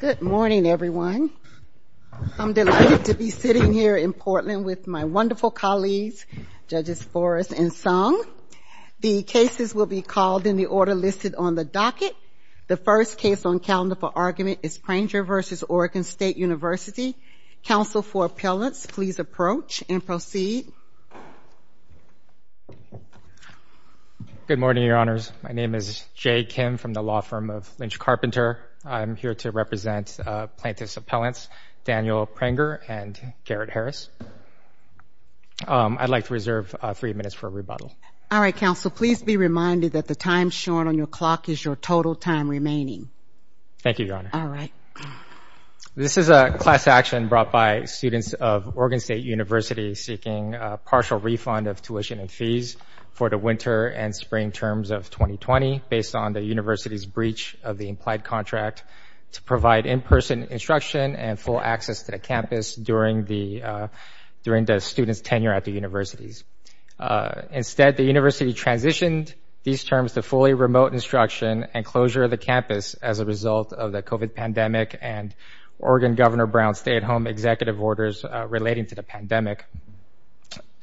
Good morning, everyone. I'm delighted to be sitting here in Portland with my wonderful colleagues, Judges Forrest and Sung. The cases will be called in the order listed on the docket. The first case on calendar for argument is Pranger v. Oregon State University. Counsel for appellants, please approach and proceed. Good morning, Your Honors. My name is Jay Kim from the law firm of Lynch Carpenter. I'm here to represent plaintiff's appellants, Daniel Pranger and Garrett Harris. I'd like to reserve three minutes for rebuttal. All right, counsel, please be reminded that the time shown on your clock is your total time remaining. Thank you, Your Honor. This is a class action brought by students of Oregon State University seeking a partial refund of tuition and fees for the winter and spring terms of 2020 based on the university's breach of the implied contract to provide in-person instruction and full access to the campus during the students' tenure at the universities. Instead, the university transitioned these terms to fully remote instruction and closure of the campus as a result of the COVID pandemic and Oregon Governor Brown's stay-at-home executive orders relating to the pandemic.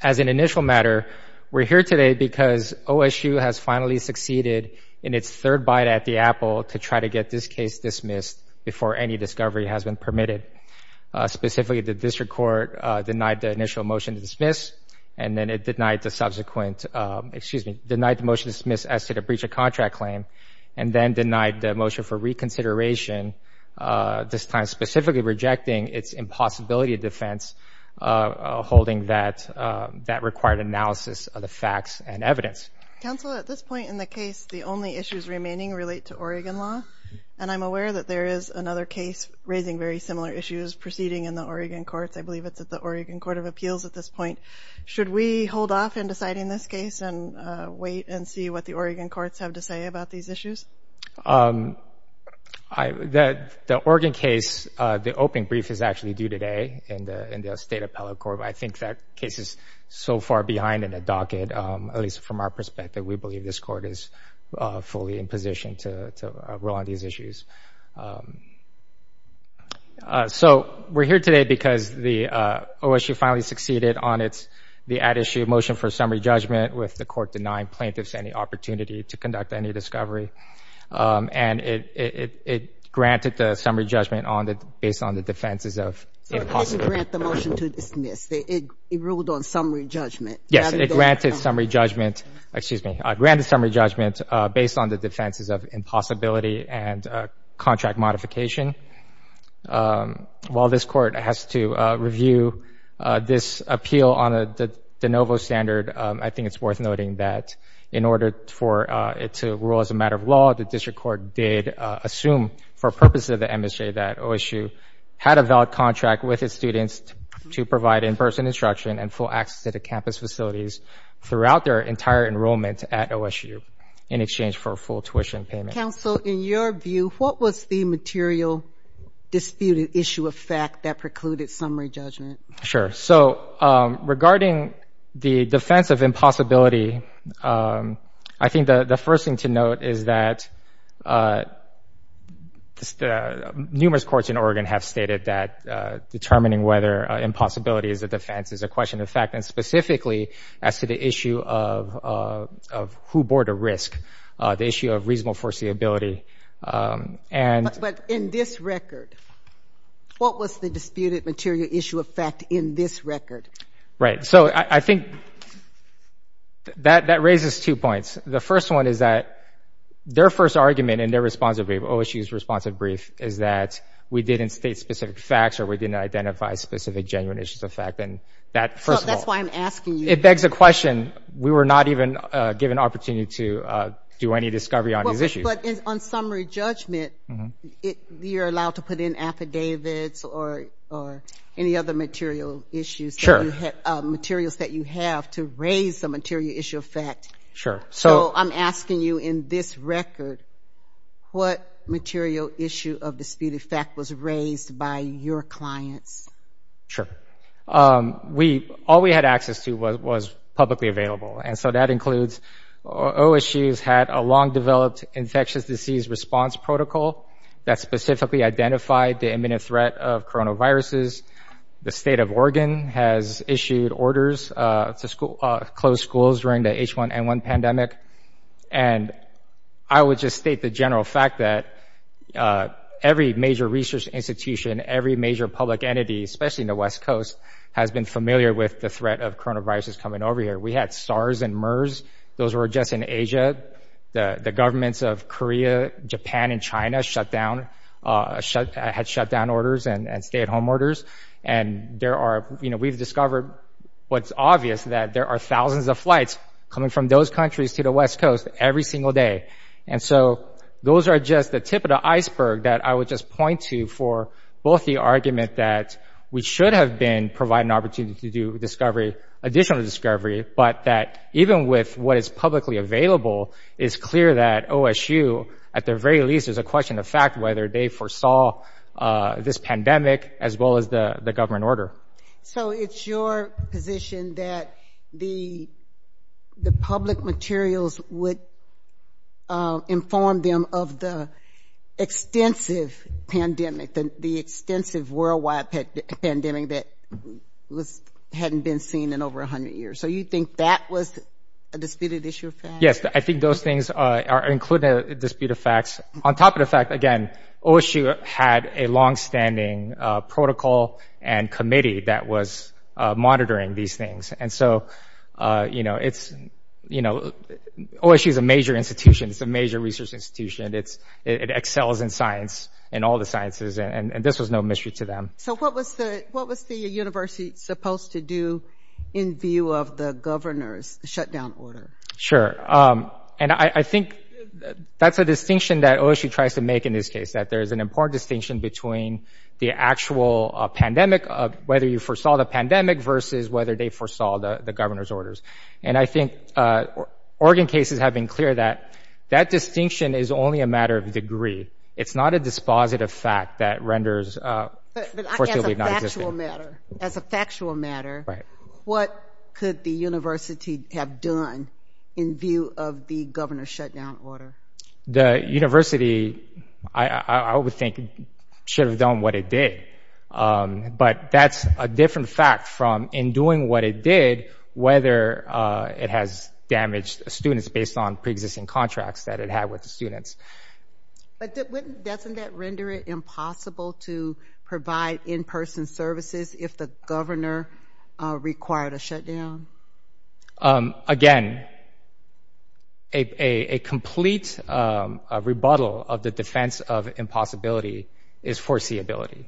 As an initial matter, we're here today because OSU has finally succeeded in its third bite at the apple to try to get this case dismissed before any discovery has been permitted. Specifically, the district court denied the initial motion to dismiss, and then it denied the subsequent, excuse me, denied the motion to dismiss as to the breach of contract claim and then denied the motion for reconsideration, this time specifically rejecting its impossibility of defense holding that required analysis of the facts and evidence. Counsel, at this point in the case, the only issues remaining relate to Oregon law. And I'm aware that there is another case raising very similar issues proceeding in the Oregon courts. I believe it's at the Oregon Court of Appeals at this point. Should we hold off in deciding this case and wait and see what the Oregon courts have to say about these issues? The Oregon case, the opening brief is actually due today in the state appellate court. I think that case is so far behind in the docket, at least from our perspective, we believe this court is fully in position to roll on these issues. So we're here today because the OSU finally succeeded on the ad issue motion for summary judgment with the court denying plaintiffs any opportunity to conduct any discovery. And it granted the summary judgment based on the defenses of impossibility. So it didn't grant the motion to dismiss, it ruled on summary judgment. Yes, it granted summary judgment, excuse me, it granted summary judgment based on the defenses of impossibility and contract modification. While this court has to review this appeal on the de novo standard, I think it's worth noting that in order for it to rule as a matter of law, the district court did assume for purposes of the MSJ that OSU had a valid contract with its students to provide in-person instruction and full access to the campus facilities throughout their entire enrollment at OSU in exchange for a full tuition payment. Council, in your view, what was the material disputed issue of fact that precluded summary judgment? Sure, so regarding the defense of impossibility, I think the first thing to note is that numerous courts in Oregon have stated that determining whether impossibility is a defense is a question of fact, and specifically as to the issue of who bore the risk, the issue of reasonable foreseeability, and- But in this record, what was the disputed material issue of fact in this record? Right, so I think that raises two points. The first one is that their first argument and their responsive brief, OSU's responsive brief, is that we didn't state specific facts or we didn't identify specific genuine issues of fact, and that, first of all- So that's why I'm asking you- It begs the question, we were not even given opportunity to do any discovery on these issues. But on summary judgment, you're allowed to put in affidavits or any other material issues- Sure. Materials that you have to raise the material issue of fact. Sure, so- What material issue of disputed fact was raised by your clients? Sure. All we had access to was publicly available. And so that includes, OSU's had a long-developed infectious disease response protocol that specifically identified the imminent threat of coronaviruses. The state of Oregon has issued orders to close schools during the H1N1 pandemic. And I would just state the general fact that every major research institution, every major public entity, especially in the West Coast, has been familiar with the threat of coronaviruses coming over here. We had SARS and MERS. Those were just in Asia. The governments of Korea, Japan, and China had shutdown orders and stay-at-home orders. And we've discovered what's obvious, that there are thousands of flights coming from those countries to the West Coast every single day. And so those are just the tip of the iceberg that I would just point to for both the argument that we should have been providing an opportunity to do discovery, additional discovery, but that even with what is publicly available, it's clear that OSU, at their very least, is a question of fact whether they foresaw this pandemic as well as the government order. So it's your position that the public materials would inform them of the extensive pandemic, the extensive worldwide pandemic that hadn't been seen in over 100 years. So you think that was a disputed issue of fact? Yes, I think those things are included in a dispute of facts. On top of the fact, again, OSU had a longstanding protocol and committee that was monitoring these things. And so, you know, OSU is a major institution. It's a major research institution. It excels in science, in all the sciences, and this was no mystery to them. So what was the university supposed to do in view of the governor's shutdown order? Sure, and I think that's a distinction that OSU tries to make in this case, that there's an important distinction between the actual pandemic, whether you foresaw the pandemic versus whether they foresaw the governor's orders. And I think Oregon cases have been clear that that distinction is only a matter of degree. It's not a dispositive fact that renders... But as a factual matter, what could the university have done in view of the governor's shutdown order? The university, I would think, should have done what it did. But that's a different fact from in doing what it did, whether it has damaged students based on preexisting contracts that it had with the students. But doesn't that render it impossible to provide in-person services if the governor required a shutdown? Again, a complete rebuttal of the defense of impossibility is foreseeability.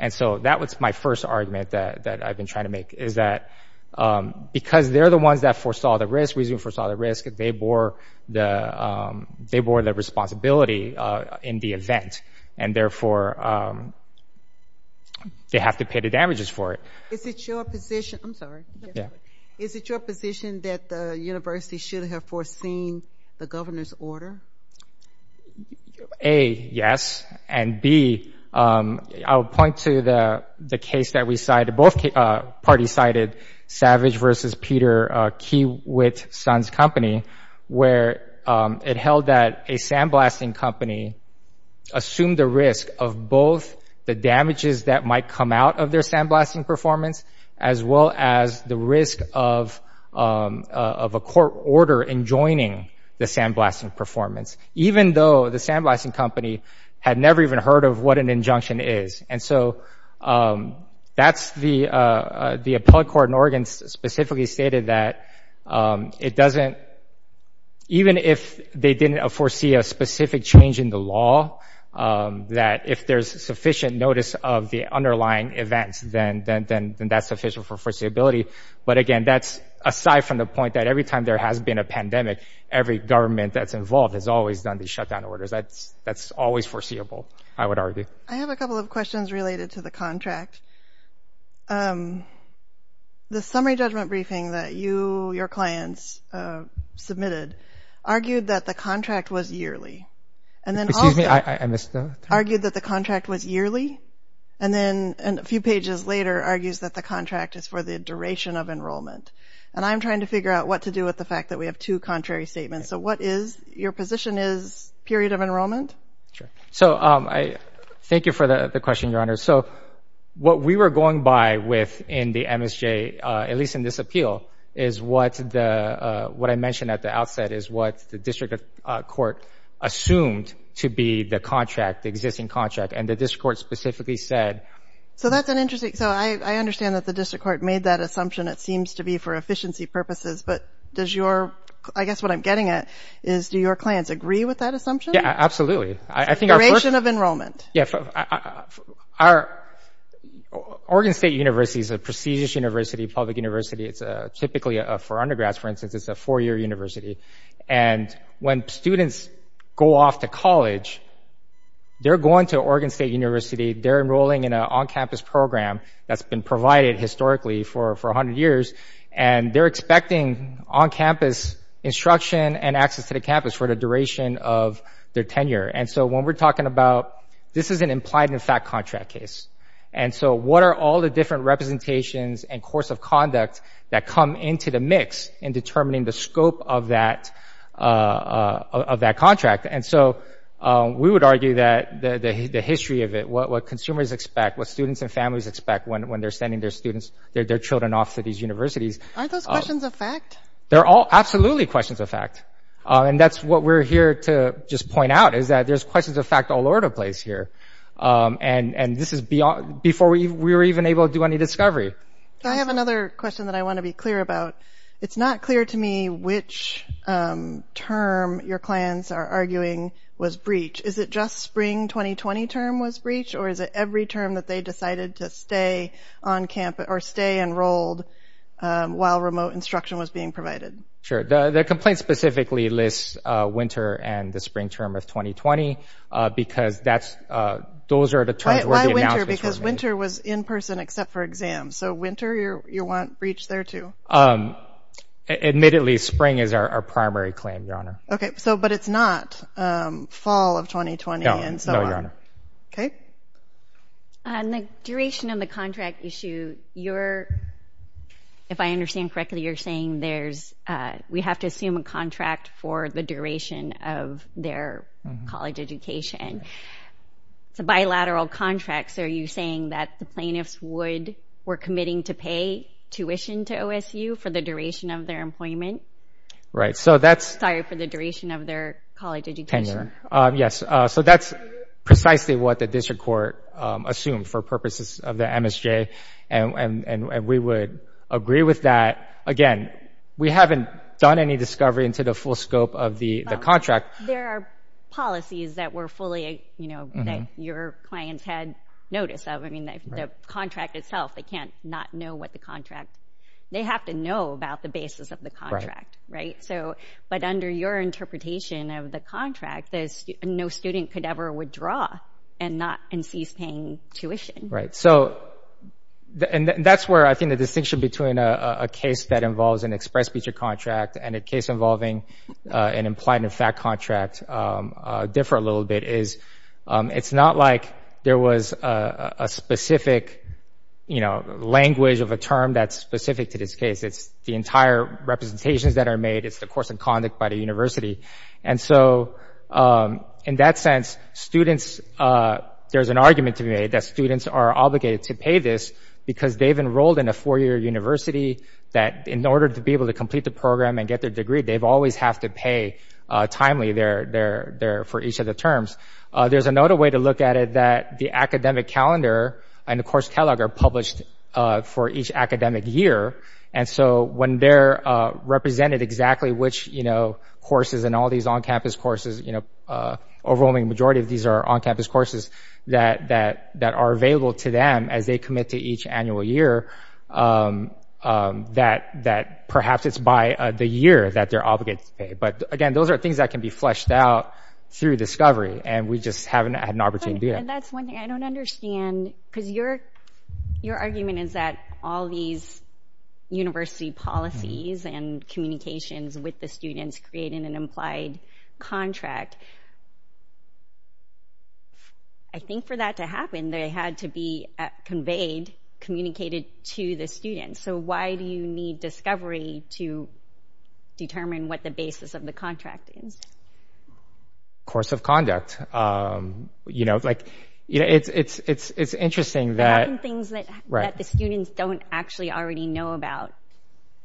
And so that was my first argument that I've been trying to make, is that because they're the ones that foresaw the risk, resumed foresaw the risk, they bore the responsibility in the event. And therefore, they have to pay the damages for it. Is it your position... I'm sorry. Is it your position that the university should have foreseen the governor's order? A, yes. And B, I would point to the case that we cited, both parties cited, Savage v. Peter Kiewit Suns Company, where it held that a sandblasting company assumed the risk of both the damages that might come out of their sandblasting performance as well as the risk of a court order enjoining the sandblasting performance, even though the sandblasting company had never even heard of what an injunction is. And so that's the appellate court in Oregon specifically stated that it doesn't... Even if they didn't foresee a specific change in the law, that if there's sufficient notice of the underlying events, then that's sufficient for foreseeability. But again, that's aside from the point that every time there has been a pandemic, every government that's involved has always done these shutdown orders. That's always foreseeable, I would argue. I have a couple of questions related to the contract. The summary judgment briefing that you, your clients submitted, argued that the contract was yearly. And then also argued that the contract was yearly. And then a few pages later, argues that the contract is for the duration of enrollment. And I'm trying to figure out what to do with the fact that we have two contrary statements. So what is, your position is period of enrollment? So I thank you for the question, Your Honor. So what we were going by with in the MSJ, at least in this appeal, is what I mentioned at the outset is what the district court assumed to be the contract, the existing contract. And the district court specifically said. So that's an interesting, so I understand that the district court made that assumption. It seems to be for efficiency purposes, but does your, I guess what I'm getting at, is do your clients agree with that assumption? Yeah, absolutely. I think our first- Duration of enrollment. Oregon State University is a prestigious university, public university. It's typically for undergrads, for instance, it's a four-year university. And when students go off to college, they're going to Oregon State University, they're enrolling in an on-campus program that's been provided historically for 100 years, and they're expecting on-campus instruction and access to the campus for the duration of their tenure. And so when we're talking about, this is an implied and fact contract case. And so what are all the different representations and course of conduct that come into the mix in determining the scope of that contract? And so we would argue that the history of it, what consumers expect, what students and families expect when they're sending their students, their children off to these universities- Aren't those questions of fact? They're all absolutely questions of fact. And that's what we're here to just point out, is that there's questions of fact all over the place here. And this is beyond, before we were even able to do any discovery. I have another question that I want to be clear about. It's not clear to me which term your clients are arguing was breach. Is it just spring 2020 term was breach, or is it every term that they decided to stay on-campus, or stay enrolled while remote instruction was being provided? Sure. The complaint specifically lists winter and the spring term of 2020, because those are the terms where the announcements- Why winter? Because winter was in-person except for exams. So winter, you want breach there too? Admittedly, spring is our primary claim, Your Honor. Okay, so, but it's not fall of 2020 and so on? No, Your Honor. Okay. On the duration of the contract issue, if I understand correctly, you're saying there's, we have to assume a contract for the duration of their college education. It's a bilateral contract, so are you saying that the plaintiffs would, were committing to pay tuition to OSU for the duration of their employment? Right, so that's- Sorry, for the duration of their college education. Yes, so that's precisely what the district court assumed for purposes of the MSJ, and we would agree with that. Again, we haven't done any discovery into the full scope of the contract. There are policies that were fully, you know, that your clients had notice of. I mean, the contract itself, they can't not know what the contract, they have to know about the basis of the contract, right? So, but under your interpretation of the contract, no student could ever withdraw and not, and cease paying tuition. Right, so, and that's where I think the distinction between a case that involves an express feature contract and a case involving an implied and fact contract differ a little bit, is it's not like there was a specific, you know, language of a term that's specific to this case. It's the entire representations that are made, it's the course of conduct by the university. And so, in that sense, students, there's an argument to be made that students are obligated to pay this because they've enrolled in a four-year university that in order to be able to complete the program and get their degree, they've always have to pay timely there for each of the terms. There's another way to look at it that the academic calendar and the course catalog are published for each academic year. And so, when they're represented exactly which, you know, courses and all these on-campus courses, you know, overwhelming majority of these are on-campus courses that are available to them as they commit to each annual year, that perhaps it's by the year that they're obligated to pay. But again, those are things that can be fleshed out through discovery, and we just haven't had an opportunity. And that's one thing, I don't understand, because your argument is that all these university policies and communications with the students create an implied contract. I think for that to happen, they had to be conveyed, communicated to the students. So, why do you need discovery to determine what the basis of the contract is? Course of conduct, you know, like, you know, it's interesting that- There are some things that the students don't actually already know about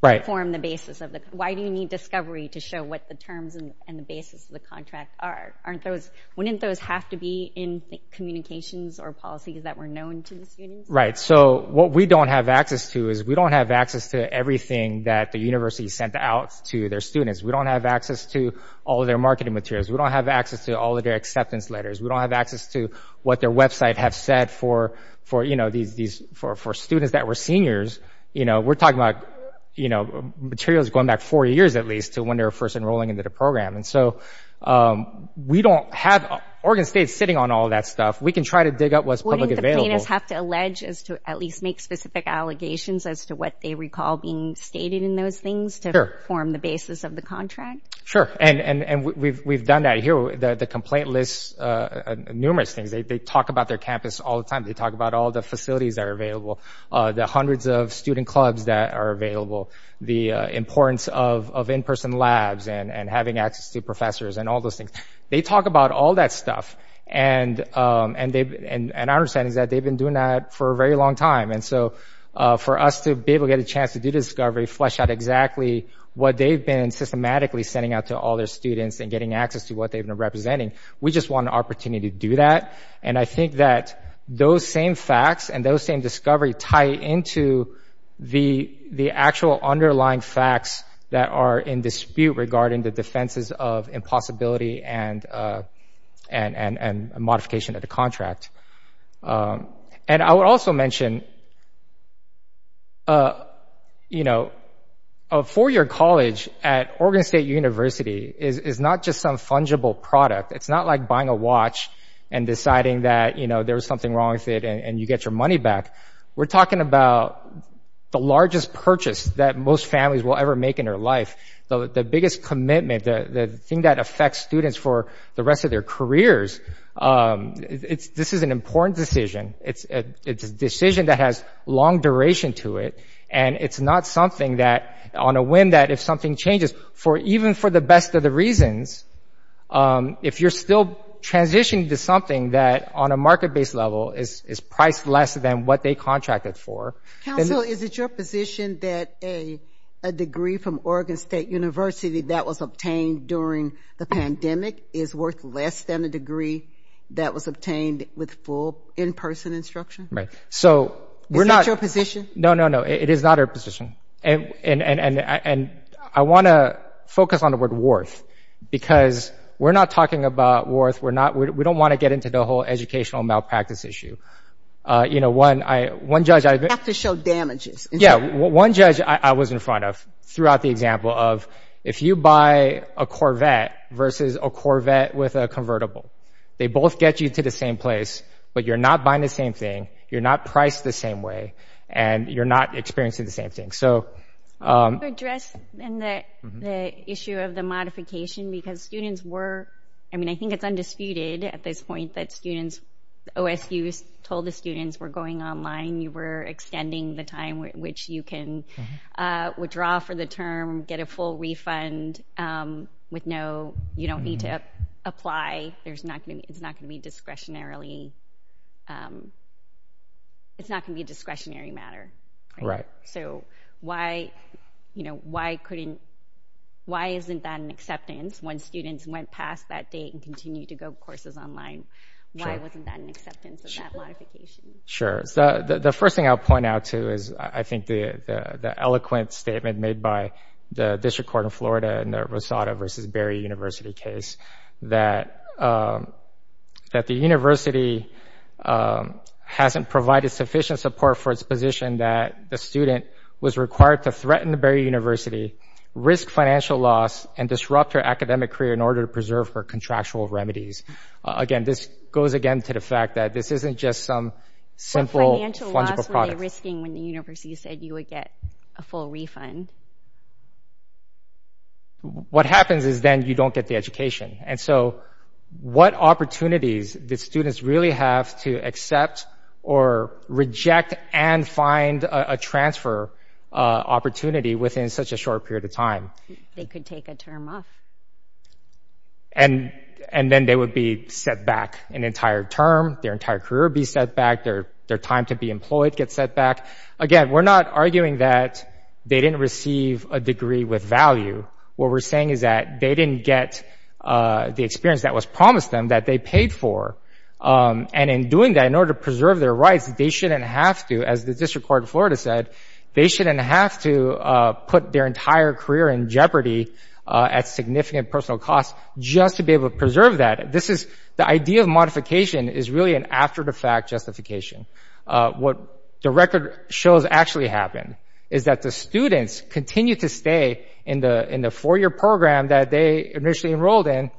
to form the basis of the, why do you need discovery to show what the terms and the basis of the contract are? Aren't those, wouldn't those have to be in communications or policies that were known to the students? Right, so what we don't have access to is we don't have access to everything that the university sent out to their students. We don't have access to all of their marketing materials. We don't have access to all of their acceptance letters. We don't have access to what their website have said for, you know, for students that were seniors. You know, we're talking about, you know, materials going back four years, at least, to when they were first enrolling into the program. And so, we don't have, Oregon State's sitting on all that stuff. We can try to dig up what's publicly available. Do the complainants have to allege as to at least make specific allegations as to what they recall being stated in those things to form the basis of the contract? Sure, and we've done that here. The complaint lists numerous things. They talk about their campus all the time. They talk about all the facilities that are available, the hundreds of student clubs that are available, the importance of in-person labs and having access to professors and all those things. They talk about all that stuff. And our understanding is that they've been doing that for a very long time. And so, for us to be able to get a chance to do discovery, flesh out exactly what they've been systematically sending out to all their students and getting access to what they've been representing, we just want an opportunity to do that. And I think that those same facts and those same discovery tie into the actual underlying facts that are in dispute regarding the defenses of impossibility and a modification of the contract. And I would also mention, a four-year college at Oregon State University is not just some fungible product. It's not like buying a watch and deciding that there was something wrong with it and you get your money back. We're talking about the largest purchase that most families will ever make in their life. The biggest commitment, the thing that affects students for the rest of their careers, this is an important decision. It's a decision that has long duration to it. And it's not something that, on a whim that if something changes, even for the best of the reasons, if you're still transitioning to something that on a market-based level is priced less than what they contracted for. Council, is it your position that a degree from Oregon State University that was obtained during the pandemic is worth less than a degree that was obtained with full in-person instruction? Right. So we're not- Is that your position? No, no, no, it is not our position. And I want to focus on the word worth because we're not talking about worth. We're not, we don't want to get into the whole educational malpractice issue. One judge- You have to show damages. Yeah, one judge I was in front of threw out the example of, if you buy a Corvette versus a Corvette with a convertible, they both get you to the same place, but you're not buying the same thing, you're not priced the same way, and you're not experiencing the same thing. So- Can you address the issue of the modification because students were, I mean, I think it's undisputed at this point that students, OSU told the students, we're going online, you were extending the time which you can withdraw for the term, get a full refund with no, you don't need to apply. There's not gonna be, it's not gonna be discretionarily, it's not gonna be a discretionary matter. Right. So why, you know, why couldn't, why isn't that an acceptance when students went past that date and continued to go courses online? Why wasn't that an acceptance of that modification? Sure, so the first thing I'll point out too is, I think the eloquent statement made by the district court in Florida in the Rosado versus Berry University case, that the university hasn't provided sufficient support for its position that the student was required to threaten the Berry University, risk financial loss, and disrupt her academic career in order to preserve her contractual remedies. Again, this goes again to the fact that this isn't just some simple fungible product. So they're risking when the university said you would get a full refund. What happens is then you don't get the education. And so what opportunities did students really have to accept or reject and find a transfer opportunity within such a short period of time? They could take a term off. And then they would be set back an entire term, their entire career be set back, their time to be employed get set back. Again, we're not arguing that they didn't receive a degree with value. What we're saying is that they didn't get the experience that was promised them, that they paid for. And in doing that, in order to preserve their rights, they shouldn't have to, as the district court in Florida said, they shouldn't have to put their entire career in jeopardy at significant personal costs just to be able to preserve that. The idea of modification is really an after-the-fact justification. What the record shows actually happened is that the students continue to stay in the four-year program that they initially enrolled in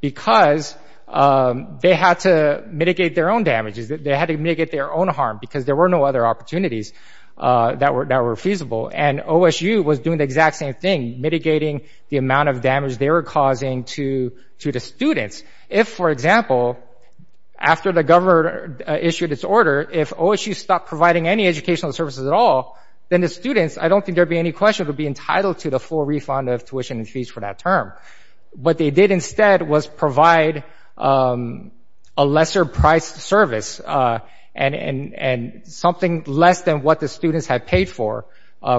because they had to mitigate their own damages. They had to mitigate their own harm because there were no other opportunities that were feasible. And OSU was doing the exact same thing, mitigating the amount of damage they were causing to the students. If, for example, after the governor issued its order, if OSU stopped providing any educational services at all, then the students, I don't think there'd be any question, would be entitled to the full refund of tuition and fees for that term. What they did instead was provide a lesser-priced service and something less than what the students had paid for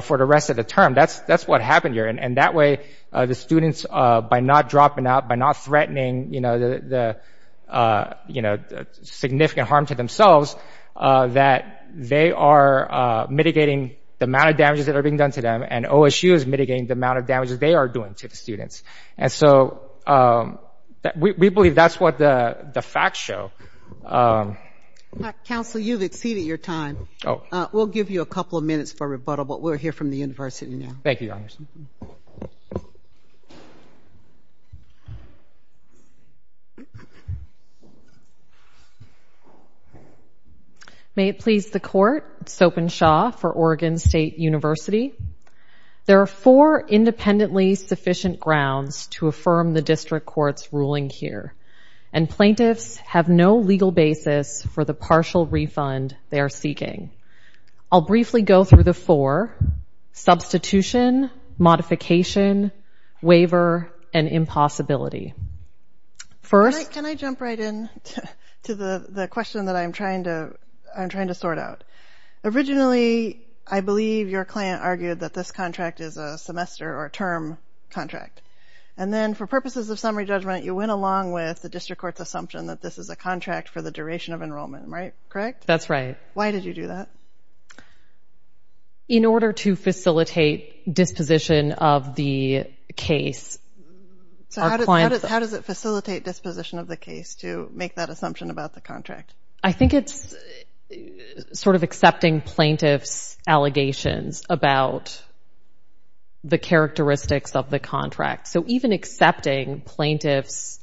for the rest of the term. That's what happened here. And that way, the students, by not dropping out, by not threatening the significant harm to themselves, that they are mitigating the amount of damages that are being done to them, and OSU is mitigating the amount of damages they are doing to the students. And so we believe that's what the facts show. Council, you've exceeded your time. We'll give you a couple of minutes for rebuttal, but we're here from the university now. Thank you, Your Honor. Thank you. May it please the court, Soap and Shaw for Oregon State University. There are four independently sufficient grounds to affirm the district court's ruling here, and plaintiffs have no legal basis for the partial refund they are seeking. I'll briefly go through the four, substitution, modification, waiver, and impossibility. First- Can I jump right in to the question that I'm trying to sort out? Originally, I believe your client argued that this contract is a semester or term contract. And then for purposes of summary judgment, you went along with the district court's assumption that this is a contract for the duration of enrollment, right? Correct? That's right. Why did you do that? In order to facilitate disposition of the case. So how does it facilitate disposition of the case to make that assumption about the contract? I think it's sort of accepting plaintiff's allegations about the characteristics of the contract. So even accepting plaintiff's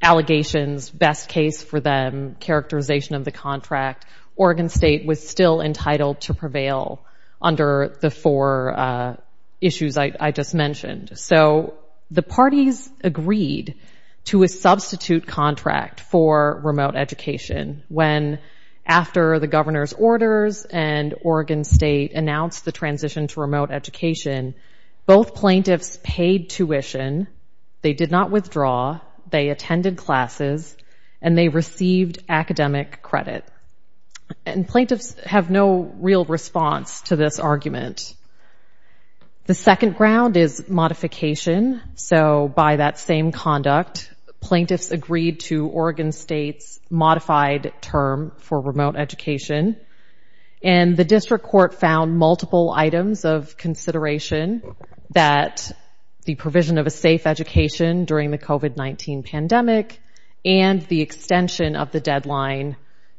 allegations, best case for them, characterization of the contract, Oregon State was still entitled to prevail under the four issues I just mentioned. So the parties agreed to a substitute contract for remote education when after the governor's orders and Oregon State announced the transition to remote education, both plaintiffs paid tuition, they did not withdraw, they attended classes, and they received academic credit. And plaintiffs have no real response to this argument. The second ground is modification. So by that same conduct, plaintiffs agreed to Oregon State's modified term for remote education. And the district court found multiple items of consideration that the provision of a safe education during the COVID-19 pandemic and the extension of the deadline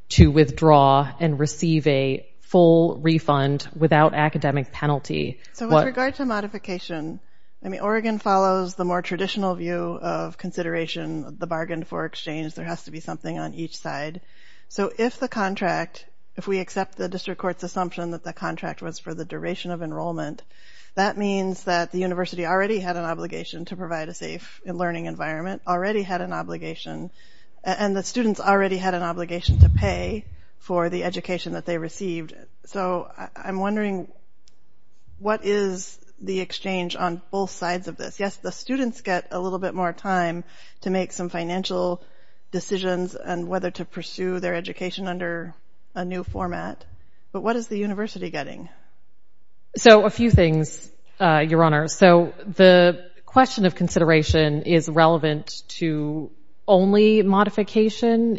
to withdraw and receive a full refund without academic penalty. So with regard to modification, I mean, Oregon follows the more traditional view of consideration, the bargain for exchange, there has to be something on each side. So if the contract, if we accept the district court's assumption that the contract was for the duration of enrollment, that means that the university already had an obligation to provide a safe learning environment, already had an obligation, and the students already had an obligation to pay for the education that they received. So I'm wondering, what is the exchange on both sides of this? Yes, the students get a little bit more time to make some financial decisions and whether to pursue their education under a new format, but what is the university getting? So a few things, Your Honor. So the question of consideration is relevant to only modification.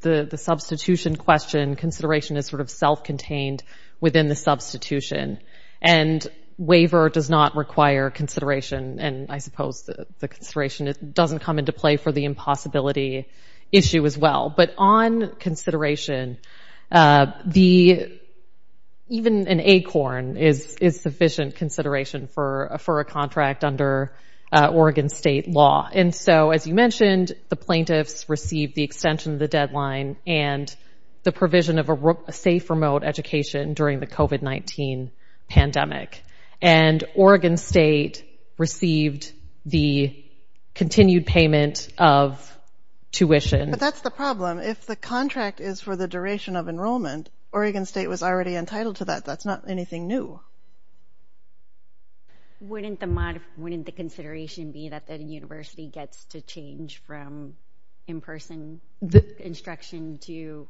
The substitution question, consideration is sort of self-contained within the substitution, and waiver does not require consideration, and I suppose the consideration doesn't come into play for the impossibility issue as well. But on consideration, even an ACORN is sufficient consideration for a contract under Oregon state law. And so, as you mentioned, the plaintiffs received the extension of the deadline and the provision of a safe remote education during the COVID-19 pandemic. And Oregon state received the continued payment of tuition. But that's the problem. If the contract is for the duration of enrollment, Oregon state was already entitled to that. That's not anything new. Wouldn't the consideration be that the university gets to change from in-person instruction to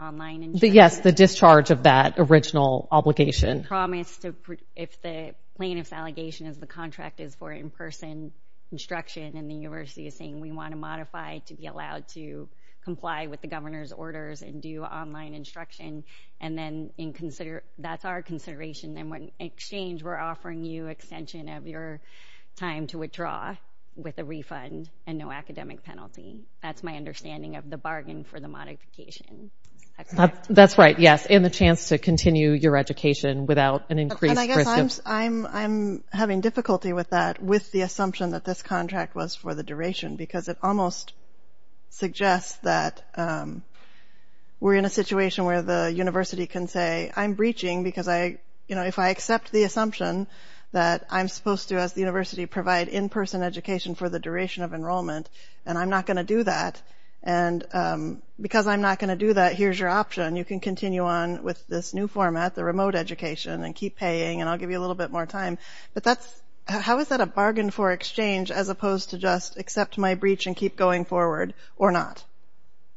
online instruction? Yes, the discharge of that original obligation. Promise to, if the plaintiff's allegation is the contract is for in-person instruction and the university is saying we want to modify to be allowed to comply with the governor's orders and do online instruction, and then that's our consideration, then in exchange we're offering you another time to withdraw with a refund and no academic penalty. That's my understanding of the bargain for the modification. That's right, yes. And the chance to continue your education without an increased risk of- And I guess I'm having difficulty with that with the assumption that this contract was for the duration because it almost suggests that I'm breaching because if I accept the assumption that I'm supposed to, as the university, provide in-person education for the duration of enrollment and I'm not going to do that, and because I'm not going to do that, here's your option. You can continue on with this new format, the remote education, and keep paying and I'll give you a little bit more time, but how is that a bargain for exchange as opposed to just accept my breach and keep going forward or not?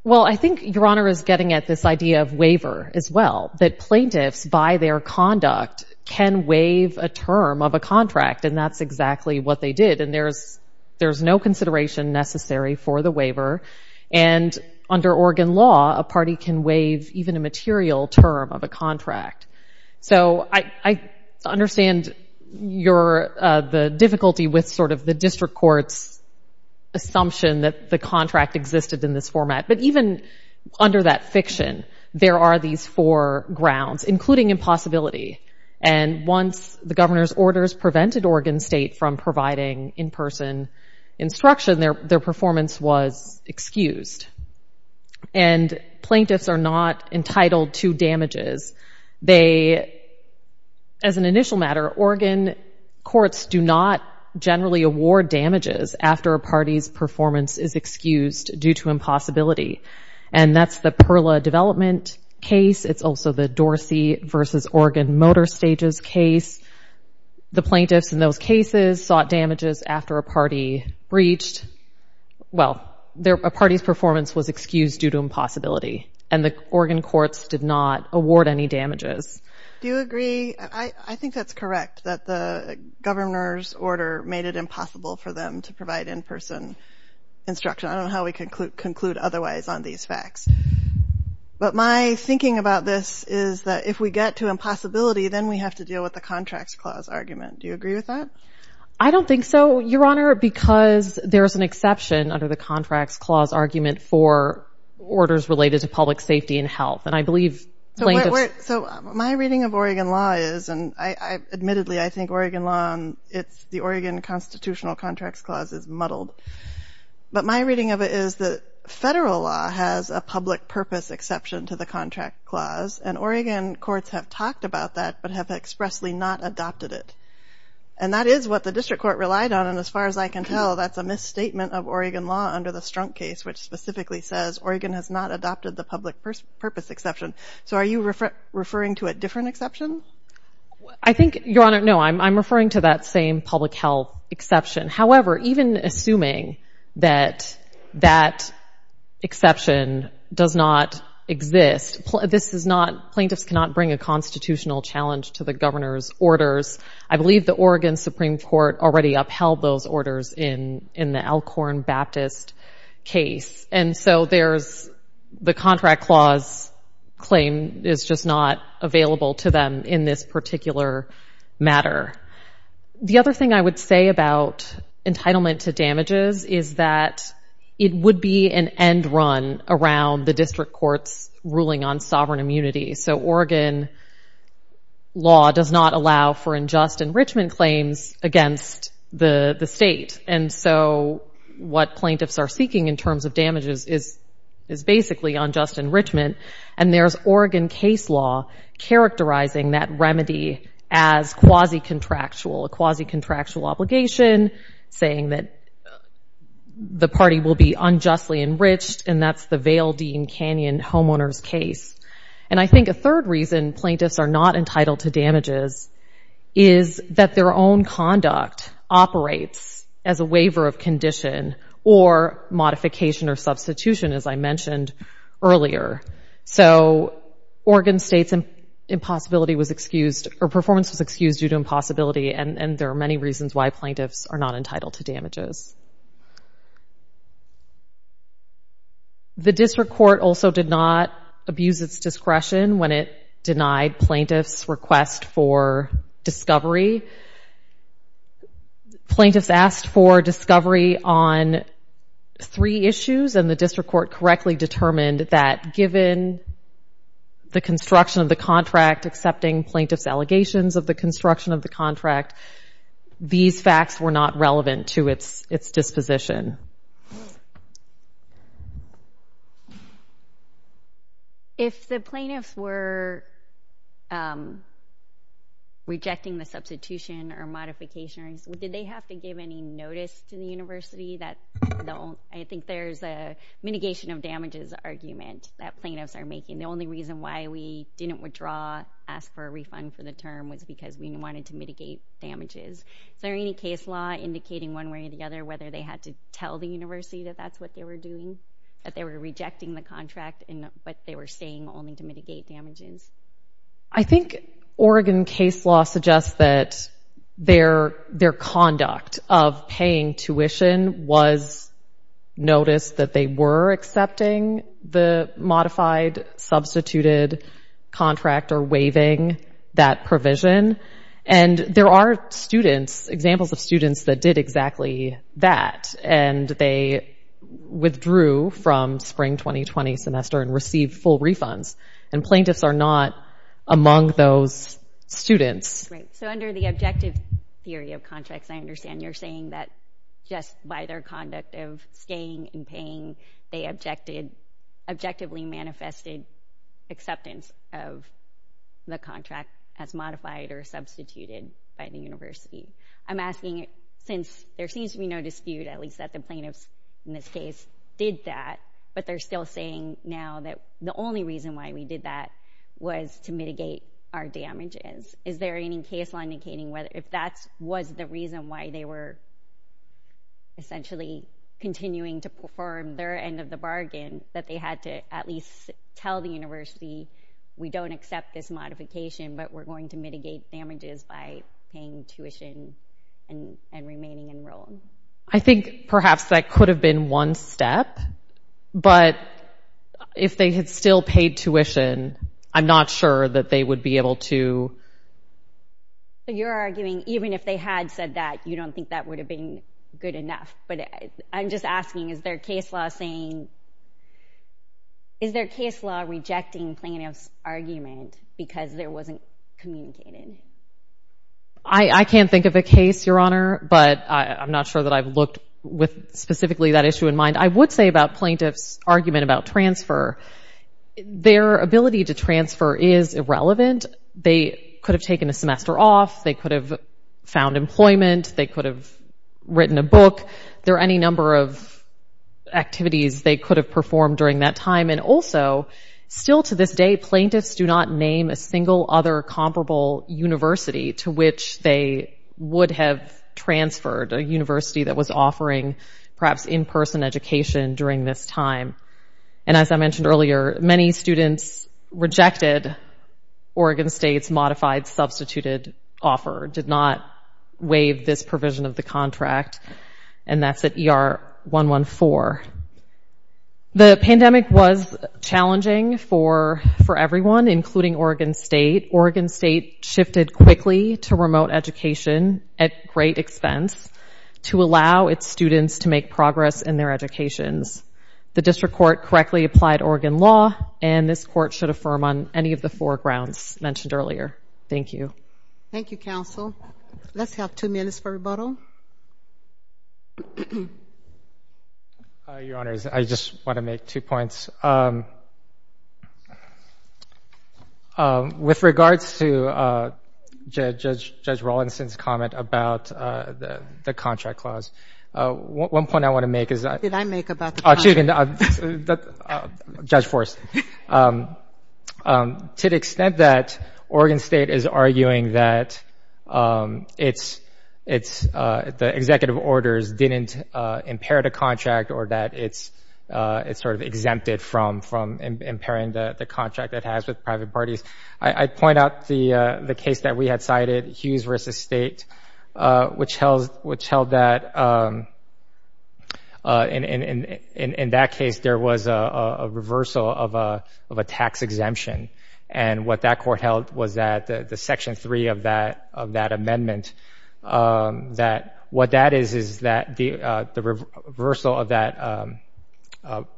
Well, I think Your Honor is getting at this idea of waiver as well, that plaintiffs, by their conduct, can waive a term of a contract and that's exactly what they did and there's no consideration necessary for the waiver and under Oregon law, a party can waive even a material term of a contract. So I understand the difficulty with sort of the district court's assumption that the contract existed in this format, but even under that fiction, there are these four grounds, including impossibility, and once the governor's orders prevented Oregon State from providing in-person instruction, their performance was excused and plaintiffs are not entitled to damages. They, as an initial matter, Oregon courts do not generally award damages after a party's performance is excused due to impossibility and that's the Perla development case, it's also the Dorsey versus Oregon Motor Stages case. The plaintiffs in those cases sought damages after a party breached, well, a party's performance was excused due to impossibility and the Oregon courts did not award any damages. Do you agree? I think that's correct, that the governor's order made it impossible for them to provide in-person instruction. I don't know how we could conclude otherwise on these facts, but my thinking about this is that if we get to impossibility, then we have to deal with the Contracts Clause argument. Do you agree with that? I don't think so, Your Honor, because there's an exception under the Contracts Clause argument for orders related to public safety and health and I believe plaintiffs- So my reading of Oregon law is, and admittedly, I think Oregon law and the Oregon Constitutional Contracts Clause is muddled, but my reading of it is that federal law has a public purpose exception to the Contracts Clause and Oregon courts have talked about that, but have expressly not adopted it. And that is what the district court relied on and as far as I can tell, that's a misstatement of Oregon law under the Strunk case, which specifically says Oregon has not adopted the public purpose exception. So are you referring to a different exception? I think, Your Honor, no, I'm referring to that same public health exception. However, even assuming that that exception does not exist, this is not, plaintiffs cannot bring a constitutional challenge to the governor's orders. I believe the Oregon Supreme Court already upheld those orders in the Alcorn Baptist case. And so there's, the Contracts Clause claim is just not available to them in this particular matter. The other thing I would say about entitlement to damages is that it would be an end run around the district courts ruling on sovereign immunity. So Oregon law does not allow for unjust enrichment claims against the state and so what plaintiffs are seeking in terms of damages is basically unjust enrichment and there's Oregon case law characterizing that remedy as quasi-contractual, a quasi-contractual obligation, saying that the party will be unjustly enriched and that's the Vail Dean Canyon homeowner's case. And I think a third reason plaintiffs are not entitled to damages is that their own conduct operates as a waiver of condition or modification or substitution, as I mentioned earlier. So Oregon State's impossibility was excused, or performance was excused due to impossibility and there are many reasons why plaintiffs are not entitled to damages. The district court also did not abuse its discretion when it denied plaintiffs' request for discovery. Plaintiffs asked for discovery on three issues and the district court correctly determined that given the construction of the contract, accepting plaintiffs' allegations of the construction of the contract, these facts were not relevant to its disposition. If the plaintiffs were rejecting the substitution or modifications, did they have to give any notice to the university that, I think there's a mitigation of damages argument that plaintiffs are making. The only reason why we didn't withdraw, ask for a refund for the term, was because we wanted to mitigate damages. Is there any case law indicating one way or the other whether they had to tell the university that that's what they were doing, that they were rejecting the contract but they were staying only to mitigate damages? I think Oregon case law suggests that their conduct of paying tuition was notice that they were accepting the modified, substituted contract or waiving that provision and there are students, examples of students that did exactly that and they withdrew from spring 2020 semester and received full refunds and plaintiffs are not among those students. So under the objective theory of contracts, I understand you're saying that just by their conduct of staying and paying, they objected, objectively manifested acceptance of the contract as modified or substituted by the university. I'm asking since there seems to be no dispute, at least that the plaintiffs in this case did that, but they're still saying now that the only reason why we did that was to mitigate our damages. Is there any case law indicating whether if that was the reason why they were essentially continuing to perform their end of the bargain, that they had to at least tell the university, we don't accept this modification but we're going to mitigate damages by paying tuition and remaining enrolled? I think perhaps that could have been one step but if they had still paid tuition, I'm not sure that they would be able to. So you're arguing even if they had said that, you don't think that would have been good enough. But I'm just asking, is there a case law saying, is there a case law rejecting plaintiff's argument because there wasn't communicated? I can't think of a case, Your Honor, but I'm not sure that I've looked with specifically that issue in mind. I would say about plaintiff's argument about transfer, their ability to transfer is irrelevant. They could have taken a semester off, they could have found employment, they could have written a book. There are any number of activities they could have performed during that time and also, still to this day, plaintiffs do not name a single other comparable university to which they would have transferred, a university that was offering perhaps in-person education during this time. And as I mentioned earlier, many students rejected Oregon State's modified substituted offer, did not waive this provision of the contract, and that's at ER 114. The pandemic was challenging for everyone, including Oregon State. Oregon State shifted quickly to remote education at great expense to allow its students to make progress in their educations. The district court correctly applied Oregon law and this court should affirm on any of the four grounds mentioned earlier. Thank you. Thank you, counsel. Let's have two minutes for rebuttal. Your honors, I just want to make two points. With regards to Judge Rawlinson's comment about the contract clause, one point I want to make is that- What did I make about the contract? Judge Forrest. To the extent that Oregon State is arguing that the executive orders didn't impair the contract or that it's sort of exempted from impairing the contract it has with private parties, I'd point out the case that we had cited, Hughes v. State, which held that in that case, there was a reversal of a tax exemption. And what that court held was that the section three of that amendment, that what that is, is that the reversal of that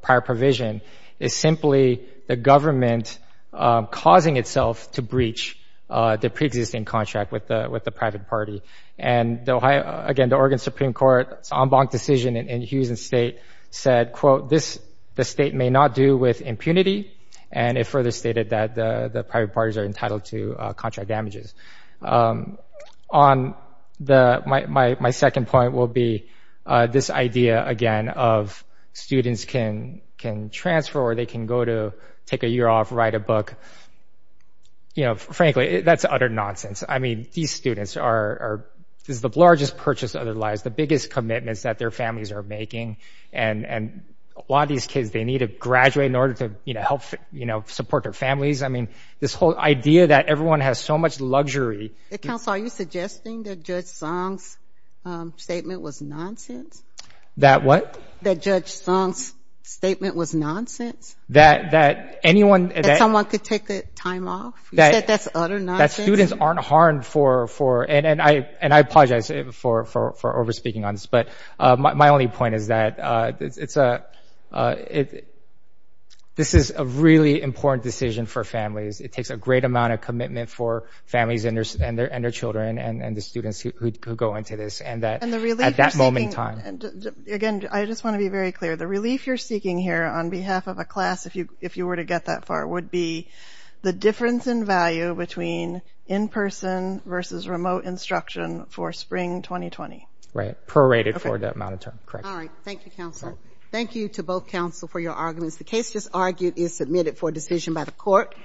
prior provision is simply the government causing itself to breach the preexisting contract with the private party. And again, the Oregon Supreme Court's en banc decision in Hughes v. State said, quote, the state may not do with impunity. And it further stated that the private parties are entitled to contract damages. My second point will be this idea, again, of students can transfer or they can go to take a year off, write a book. Frankly, that's utter nonsense. These students are, this is the largest purchase of their lives, the biggest commitments that their families are making. And a lot of these kids, they need to graduate in order to help support their families. This whole idea that everyone has so much luxury. Counsel, are you suggesting that Judge Song's statement was nonsense? That what? That Judge Song's statement was nonsense? That anyone- That someone could take the time off? You said that's utter nonsense? That students aren't harmed for, and I apologize for over-speaking on this, but my only point is that this is a really important decision for families. It takes a great amount of commitment for families and their children and the students who go into this, and that at that moment in time. Again, I just wanna be very clear. The relief you're seeking here on behalf of a class, if you were to get that far, would be the difference in value between in-person versus remote instruction for spring 2020. Right, prorated for that amount of time, correct. All right, thank you, Counsel. Thank you to both counsel for your arguments. The case just argued is submitted for decision by the court.